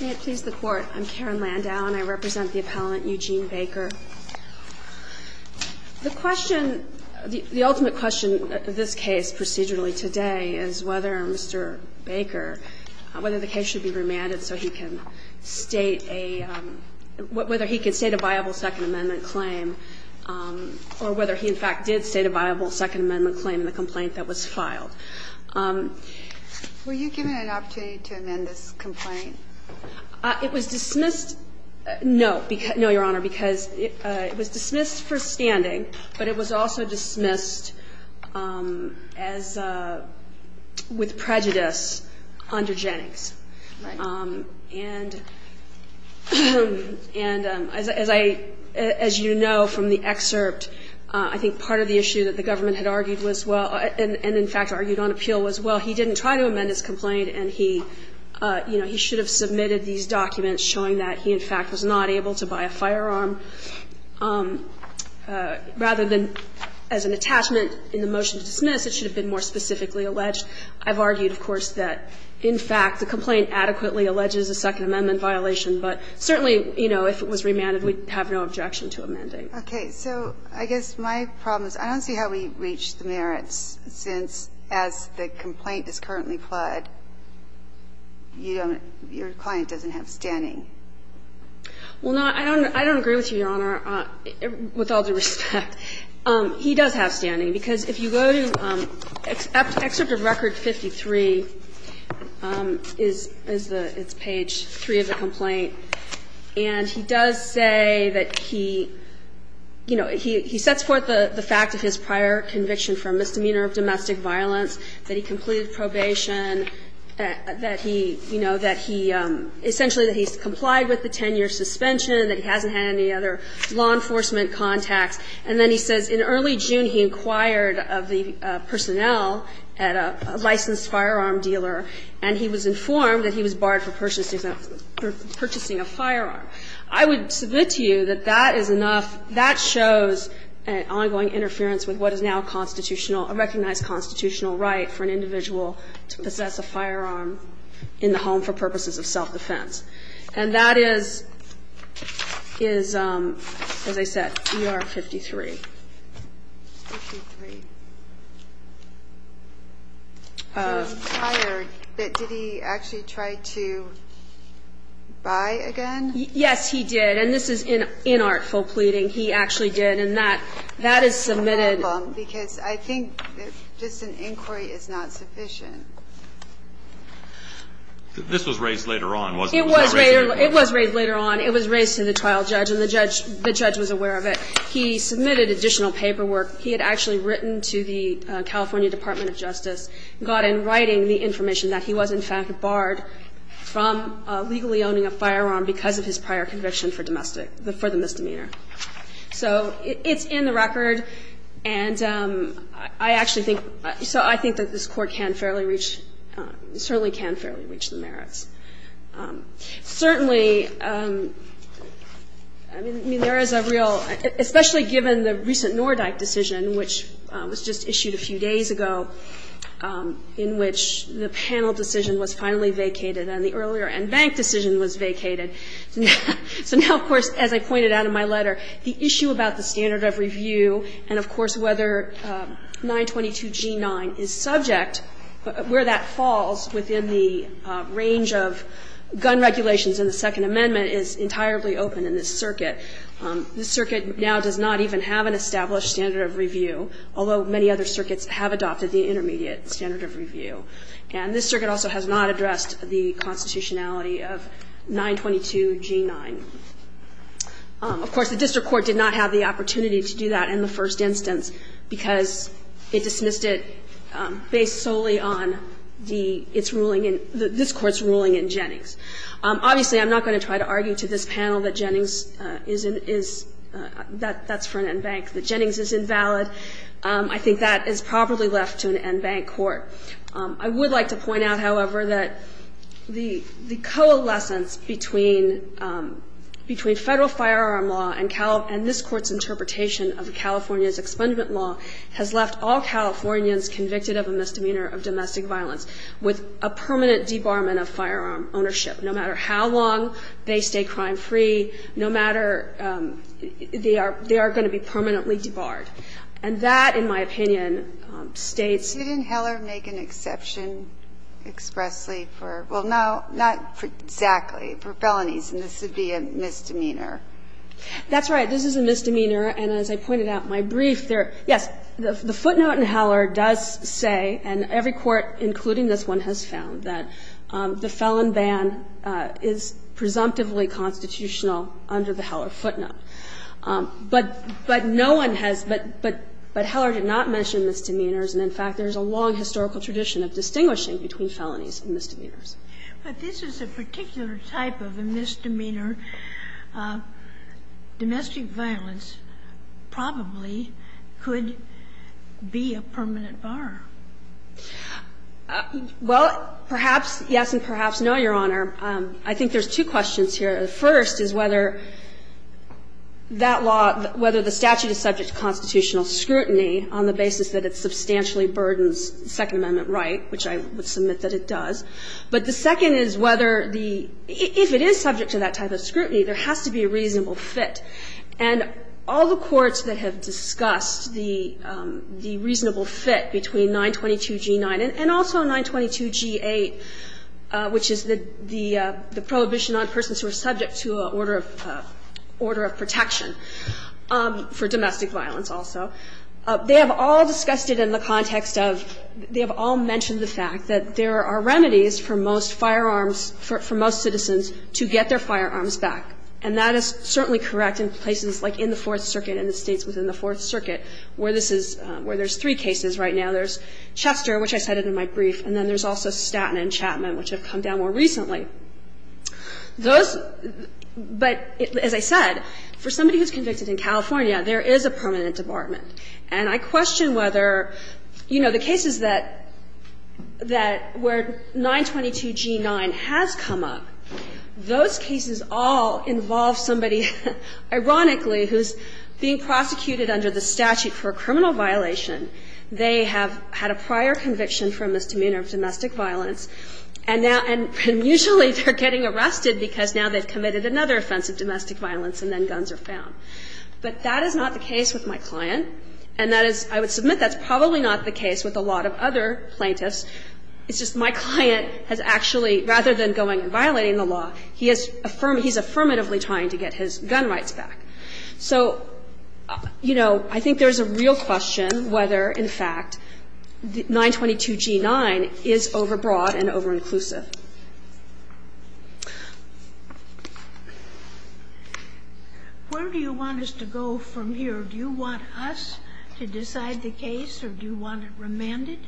May it please the Court, I'm Karen Landau, and I represent the appellant Eugene Baker. The question, the ultimate question of this case procedurally today is whether Mr. Baker, whether the case should be remanded so he can state a, whether he can state a viable Second Amendment claim, or whether he in fact did state a viable Second Amendment claim in the complaint that was filed. Were you given an opportunity to amend this complaint? It was dismissed, no, because, no, Your Honor, because it was dismissed for standing, but it was also dismissed as a, with prejudice under Jennings. Right. And, and as I, as you know from the excerpt, I think part of the issue that the government had argued was well, and in fact argued on appeal, was, well, he didn't try to amend his complaint, and he, you know, he should have submitted these documents showing that he in fact was not able to buy a firearm, rather than as an attachment in the motion to dismiss, it should have been more specifically alleged. I've argued, of course, that, in fact, the complaint adequately alleges a Second Amendment violation, but certainly, you know, if it was remanded, we'd have no objection to a mandate. Okay. So I guess my problem is I don't see how we reach the merits, since as the complaint is currently pled, you don't, your client doesn't have standing. Well, no, I don't, I don't agree with you, Your Honor, with all due respect. He does have standing, because if you go to excerpt of Record 53 is the, it's page 3 of the complaint, and he does say that he, you know, he sets forth the fact of his prior conviction for misdemeanor of domestic violence, that he completed probation, that he, you know, that he essentially that he's complied with the 10-year suspension, that he hasn't had any other law enforcement contacts, and then he says in early June he inquired of the personnel at a licensed firearm dealer, and he was informed that he was barred for purchasing a firearm. I would submit to you that that is enough, that shows an ongoing interference with what is now a constitutional, a recognized constitutional right for an individual to possess a firearm in the home for purposes of self-defense. And that is, as I said, ER 53. I'm tired, but did he actually try to buy again? Yes, he did, and this is inartful pleading. He actually did, and that, that is submitted. Because I think just an inquiry is not sufficient. This was raised later on, wasn't it? It was raised later on. It was raised to the trial judge, and the judge, the judge was aware of it. He submitted additional paperwork. He had actually written to the California Department of Justice, got in writing the information that he was in fact barred from legally owning a firearm because of his prior conviction for domestic, for the misdemeanor. So it's in the record, and I actually think, so I think that this Court can fairly reach, certainly can fairly reach the merits. Certainly, I mean, there is a real, especially given the recent Nordyke decision, which was just issued a few days ago, in which the panel decision was finally vacated and the earlier en banc decision was vacated. So now, of course, as I pointed out in my letter, the issue about the standard of review and, of course, whether 922 G9 is subject, where that falls within the range of gun regulations in the Second Amendment is entirely open in this circuit. This circuit now does not even have an established standard of review, although many other circuits have adopted the intermediate standard of review. And this circuit also has not addressed the constitutionality of 922 G9. Of course, the district court did not have the opportunity to do that in the first instance, because it dismissed it based solely on the, its ruling in, this Court's ruling in Jennings. Obviously, I'm not going to try to argue to this panel that Jennings is, that that's for an en banc, that Jennings is invalid. I think that is properly left to an en banc court. I would like to point out, however, that the coalescence between Federal firearm law and this Court's interpretation of California's expungement law has left all Californians convicted of a misdemeanor of domestic violence with a permanent debarment of firearm ownership, no matter how long they stay crime-free, no matter they are going to be permanently debarred. And that, in my opinion, states that this is a misdemeanor. That's right. This is a misdemeanor. And as I pointed out in my brief, there, yes, the footnote in Heller does say, and every court, including this one, has found, that the felon ban is presumptively constitutional under the Heller footnote. But no one has, but Heller did not mention misdemeanors, and in fact, there is a long historical tradition of distinguishing between felonies and misdemeanors. But this is a particular type of a misdemeanor. Domestic violence probably could be a permanent bar. Well, perhaps, yes, and perhaps, no, Your Honor. I think there's two questions here. The first is whether that law, whether the statute is subject to constitutional scrutiny on the basis that it substantially burdens Second Amendment right, which I would submit that it does. But the second is whether the – if it is subject to that type of scrutiny, there has to be a reasonable fit. And all the courts that have discussed the reasonable fit between 922g9 and also 922g8, which is the prohibition on persons who are subject to an order of protection for domestic violence also, they have all discussed it in the context of – they have all discussed it in the context of the statute. And I think that there are remedies for most firearms, for most citizens to get their firearms back. And that is certainly correct in places like in the Fourth Circuit and the States within the Fourth Circuit where this is – where there's three cases right now. There's Chester, which I cited in my brief, and then there's also Staten and Chapman, which have come down more recently. Those – but as I said, for somebody who's convicted in California, there is a permanent debarment. And I question whether, you know, the cases that – that where 922g9 has come up, those cases all involve somebody, ironically, who's being prosecuted under the statute for a criminal violation. They have had a prior conviction for a misdemeanor of domestic violence. And now – and usually they're getting arrested because now they've committed another offense of domestic violence and then guns are found. But that is not the case with my client. And that is – I would submit that's probably not the case with a lot of other plaintiffs. It's just my client has actually, rather than going and violating the law, he has affirmed – he's affirmatively trying to get his gun rights back. So, you know, I think there's a real question whether, in fact, 922g9 is overbrought and overinclusive. Sotomayor, where do you want us to go from here? Do you want us to decide the case or do you want it remanded?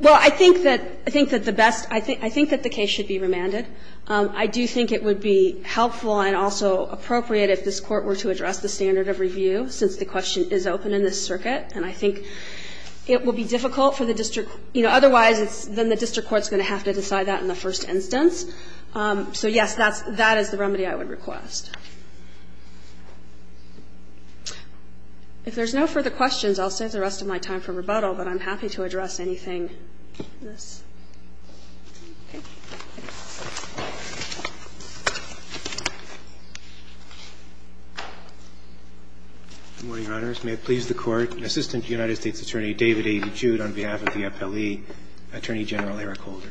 Well, I think that – I think that the best – I think that the case should be remanded. I do think it would be helpful and also appropriate if this Court were to address the standard of review, since the question is open in this circuit. And I think it would be difficult for the district – you know, otherwise it's – then the district court's going to have to decide that in the first instance. So, yes, that's – that is the remedy I would request. If there's no further questions, I'll save the rest of my time for rebuttal, but I'm happy to address anything in this. Good morning, Your Honors. May it please the Court. Assistant to the United States Attorney, David A. DeJude, on behalf of the appellee, Attorney General Eric Holder.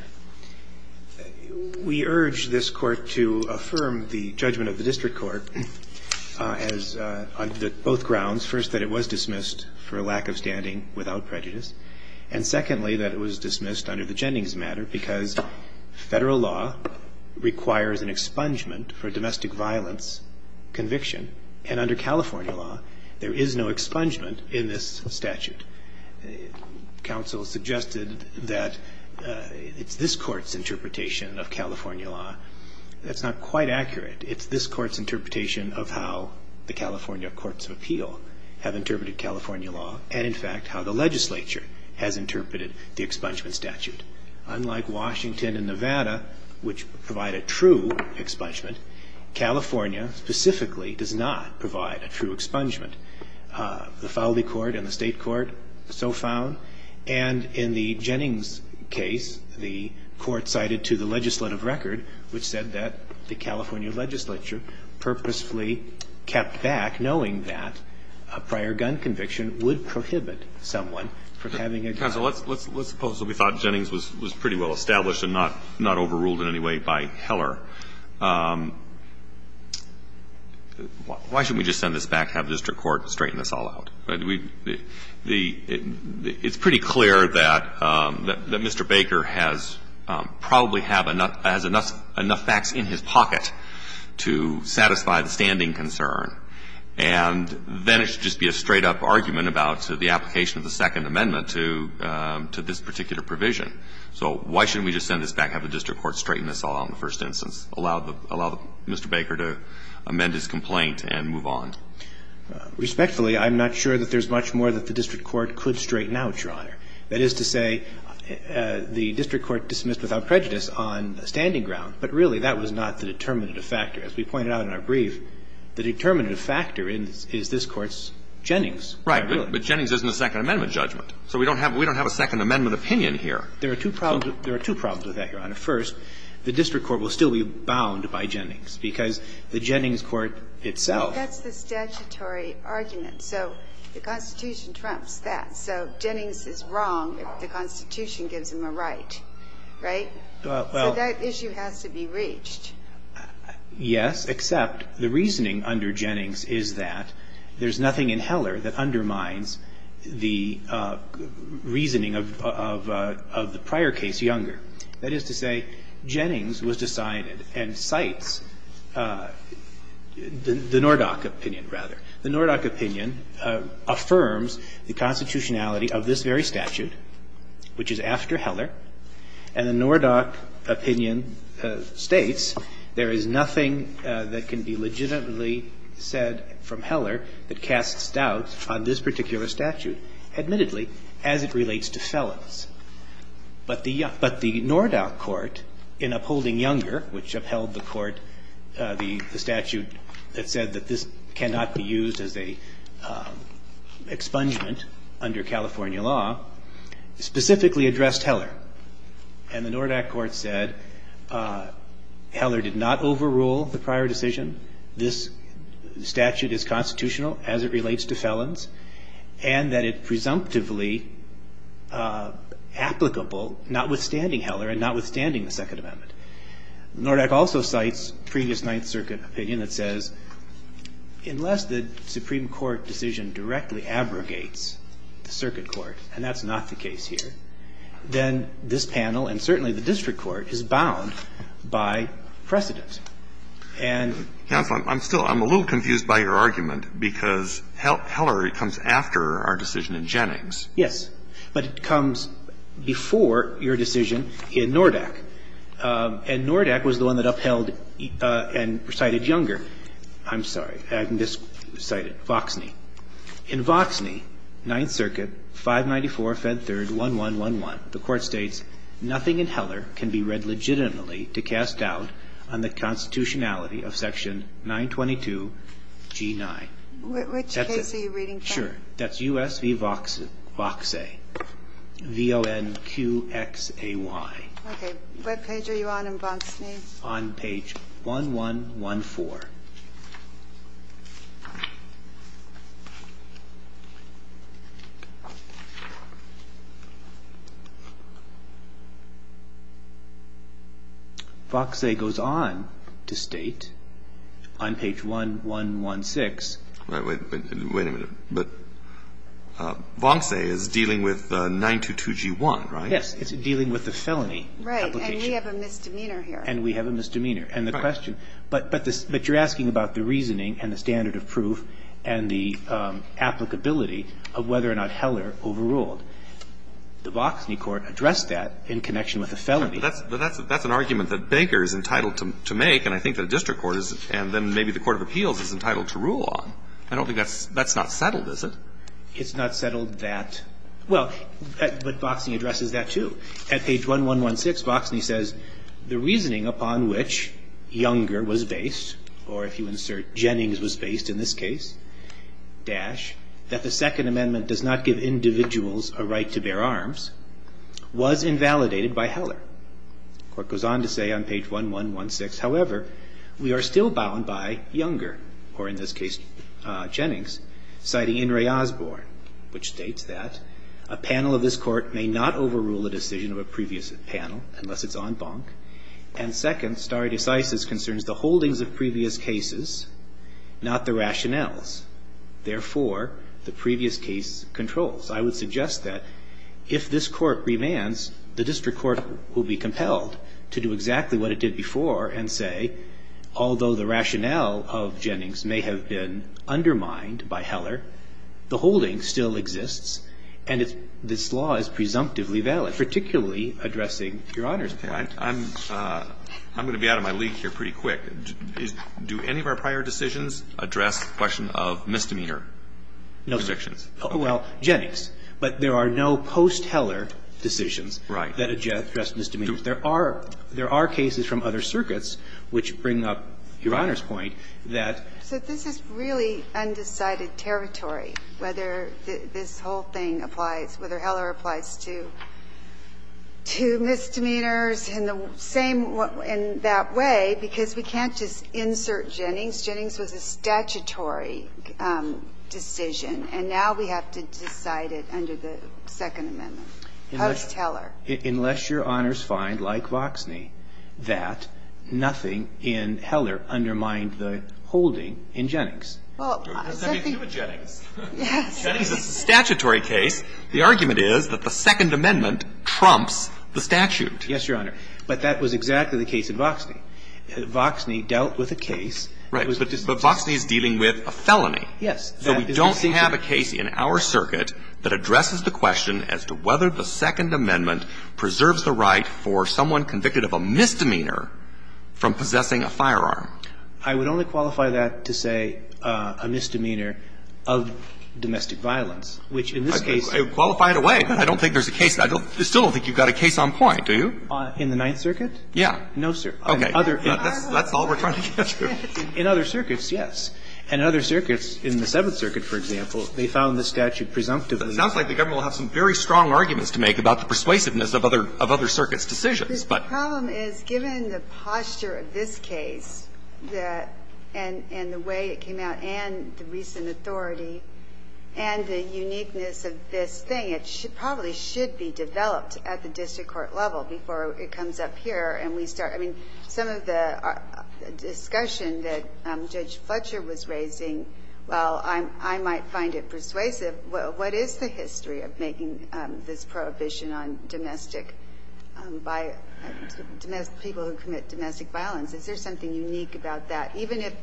We urge this Court to affirm the judgment of the district court as – on both grounds. First, that it was dismissed for lack of standing without prejudice. And secondly, that it was dismissed under the Jennings matter because federal law requires an expungement for domestic violence conviction. And under California law, there is no expungement in this statute. Counsel suggested that it's this Court's interpretation of California law. That's not quite accurate. It's this Court's interpretation of how the California Courts of Appeal have interpreted the expungement statute. Unlike Washington and Nevada, which provide a true expungement, California specifically does not provide a true expungement. The Fowley Court and the State Court so found. And in the Jennings case, the Court cited to the legislative record, which said that the California legislature purposefully kept back, knowing that a prior gun conviction would prohibit someone from having a gun. Counsel, let's suppose that we thought Jennings was pretty well established and not overruled in any way by Heller. Why shouldn't we just send this back, have the district court straighten this all out? It's pretty clear that Mr. Baker has probably had enough facts in his pocket to satisfy the standing concern. And then it should just be a straight-up argument about the application of the Second Amendment to this particular provision. So why shouldn't we just send this back, have the district court straighten this all out in the first instance, allow Mr. Baker to amend his complaint and move on? Respectfully, I'm not sure that there's much more that the district court could straighten out, Your Honor. That is to say, the district court dismissed without prejudice on standing ground, but really that was not the determinative factor. As we pointed out in our brief, the determinative factor is this Court's Jennings ruling. Right. But Jennings isn't a Second Amendment judgment. So we don't have a Second Amendment opinion here. There are two problems with that, Your Honor. First, the district court will still be bound by Jennings because the Jennings court itself – Well, that's the statutory argument. So the Constitution trumps that. So Jennings is wrong if the Constitution gives him a right, right? So that issue has to be reached. Yes, except the reasoning under Jennings is that there's nothing in Heller that undermines the reasoning of the prior case younger. That is to say, Jennings was decided and cites the Nordach opinion, rather. The Nordach opinion affirms the constitutionality of this very statute, which is after Heller, and the Nordach opinion states there is nothing that can be legitimately said from Heller that casts doubt on this particular statute, admittedly, as it relates to felons. But the Nordach court, in upholding younger, which upheld the court, the statute that said that this cannot be used as a expungement under California law, specifically addressed Heller. And the Nordach court said Heller did not overrule the prior decision. This statute is constitutional as it relates to felons, and that it's presumptively applicable, notwithstanding Heller and notwithstanding the Second Amendment. Nordach also cites previous Ninth Circuit opinion that says, unless the Supreme Court decision directly abrogates the circuit court, and that's not the case here, then this panel, and certainly the district court, is bound by precedent. And so I'm still – I'm a little confused by your argument, because Heller comes after our decision in Jennings. Yes. But it comes before your decision in Nordach. And Nordach was the one that upheld and cited younger. I'm sorry. Voxne. In Voxne, Ninth Circuit, 594, Fed 3rd, 1111, the Court states, Nothing in Heller can be read legitimately to cast doubt on the constitutionality of section 922G9. Which case are you reading from? Sure. That's US v. Voxe, V-O-N-Q-X-A-Y. What page are you on in Voxne? On page 1114. Voxe goes on to state, on page 1116. Wait a minute. But Voxe is dealing with 922G1, right? Yes. It's dealing with the felony application. Right. And we have a misdemeanor here. And we have a misdemeanor. Right. But you're asking about the reasoning and the standard of proof and the applicability of whether or not Heller overruled. The Voxne court addressed that in connection with the felony. But that's an argument that Baker is entitled to make. And I think that a district court is. And then maybe the court of appeals is entitled to rule on. I don't think that's not settled, is it? It's not settled that. Well, but Voxe addresses that, too. At page 1116, Voxne says, the reasoning upon which Younger was based, or if you insert Jennings was based in this case, dash, that the Second Amendment does not give individuals a right to bear arms, was invalidated by Heller. The court goes on to say on page 1116, however, we are still bound by Younger, or in this case Jennings, citing In re Osborne, which states that, a panel of this court may not overrule a decision of a previous panel unless it's en banc. And second, stare decisis concerns the holdings of previous cases, not the rationales. Therefore, the previous case controls. I would suggest that if this court remands, the district court will be compelled to do exactly what it did before and say, although the rationale of Jennings may have been undermined by Heller, the holding still exists, and this law is presumptively valid, particularly addressing Your Honor's point. I'm going to be out of my league here pretty quick. Do any of our prior decisions address the question of misdemeanor convictions? Well, Jennings. But there are no post-Heller decisions that address misdemeanor. There are cases from other circuits which bring up Your Honor's point that. So this is really undecided territory, whether this whole thing applies, whether Heller applies to misdemeanors in the same way, in that way, because we can't just insert Jennings. Jennings was a statutory decision, and now we have to decide it under the Second Amendment, post-Heller. Unless Your Honors find, like Voxney, that nothing in Heller undermined the holdings in Jennings. Well, I think. Jennings is a statutory case. The argument is that the Second Amendment trumps the statute. Yes, Your Honor. But that was exactly the case in Voxney. Voxney dealt with a case. Right. But Voxney is dealing with a felony. Yes. So we don't have a case in our circuit that addresses the question as to whether the Second Amendment preserves the right for someone convicted of a misdemeanor from possessing a firearm. I would only qualify that to say a misdemeanor of domestic violence, which in this case – Qualify it away. I don't think there's a case. I still don't think you've got a case on point, do you? In the Ninth Circuit? Yeah. No, sir. Okay. That's all we're trying to get to. In other circuits, yes. And in other circuits, in the Seventh Circuit, for example, they found the statute presumptive of the – It sounds like the government will have some very strong arguments to make about the persuasiveness of other circuits' decisions, but – Well, the problem is, given the posture of this case and the way it came out and the recent authority and the uniqueness of this thing, it probably should be developed at the district court level before it comes up here and we start – I mean, some of the discussion that Judge Fletcher was raising, while I might find it persuasive, what is the history of making this prohibition on domestic – by people who commit domestic violence? Is there something unique about that? Even if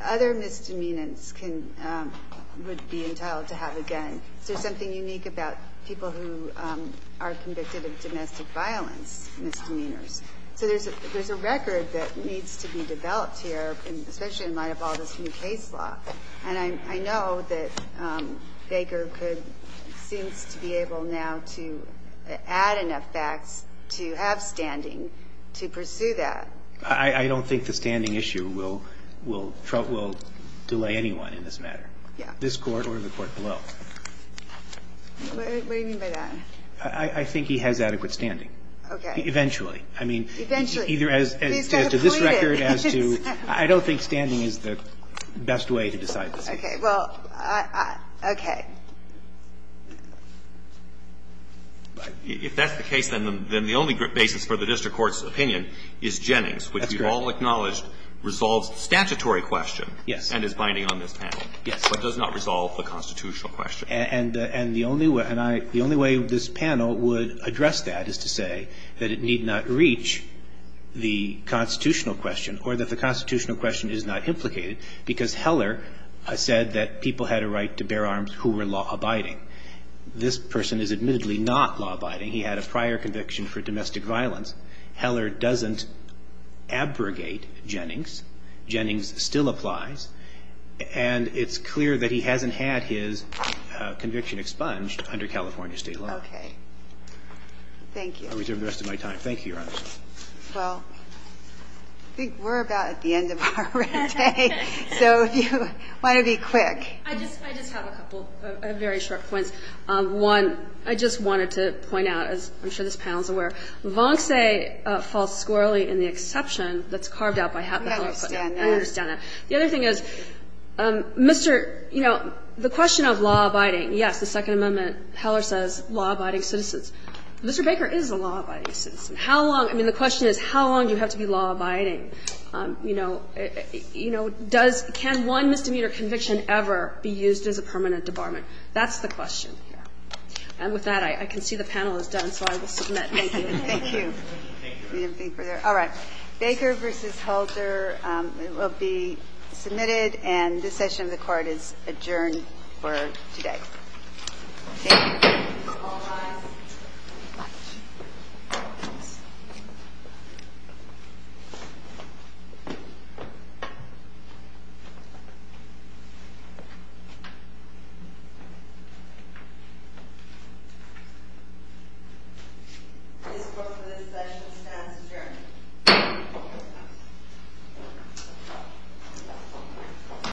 other misdemeanors would be entitled to have a gun, is there something unique about people who are convicted of domestic violence misdemeanors? So there's a record that needs to be developed here, especially in light of all this new case law. And I know that Baker could – seems to be able now to add enough facts to have standing to pursue that. I don't think the standing issue will – will delay anyone in this matter. Yeah. This Court or the Court below. What do you mean by that? I think he has adequate standing. Okay. Eventually. Eventually. He's got to plead it. I don't think standing is the best way to decide this case. Okay. Well, okay. If that's the case, then the only basis for the district court's opinion is Jennings. That's correct. Which we've all acknowledged resolves the statutory question. Yes. And is binding on this panel. Yes. But does not resolve the constitutional question. And the only way this panel would address that is to say that it need not reach the constitutional question or that the constitutional question is not implicated because Heller said that people had a right to bear arms who were law-abiding. This person is admittedly not law-abiding. He had a prior conviction for domestic violence. Heller doesn't abrogate Jennings. Jennings still applies. And it's clear that he hasn't had his conviction expunged under California state law. Okay. Thank you. I reserve the rest of my time. Thank you, Your Honor. Well, I think we're about at the end of our day. So if you want to be quick. I just have a couple of very short points. One, I just wanted to point out, as I'm sure this panel is aware, Vonce falls squarely in the exception that's carved out by Heller. I understand that. I understand that. The other thing is, Mr. You know, the question of law-abiding. Yes, the Second Amendment, Heller says law-abiding citizens. Mr. Baker is a law-abiding citizen. How long? I mean, the question is, how long do you have to be law-abiding? You know, can one misdemeanor conviction ever be used as a permanent debarment? That's the question. And with that, I can see the panel is done, so I will submit. Thank you. Thank you. All right. Baker v. Halter will be submitted, and this session of the Court is adjourned for today. Thank you. All rise. This Court, for this session, stands adjourned.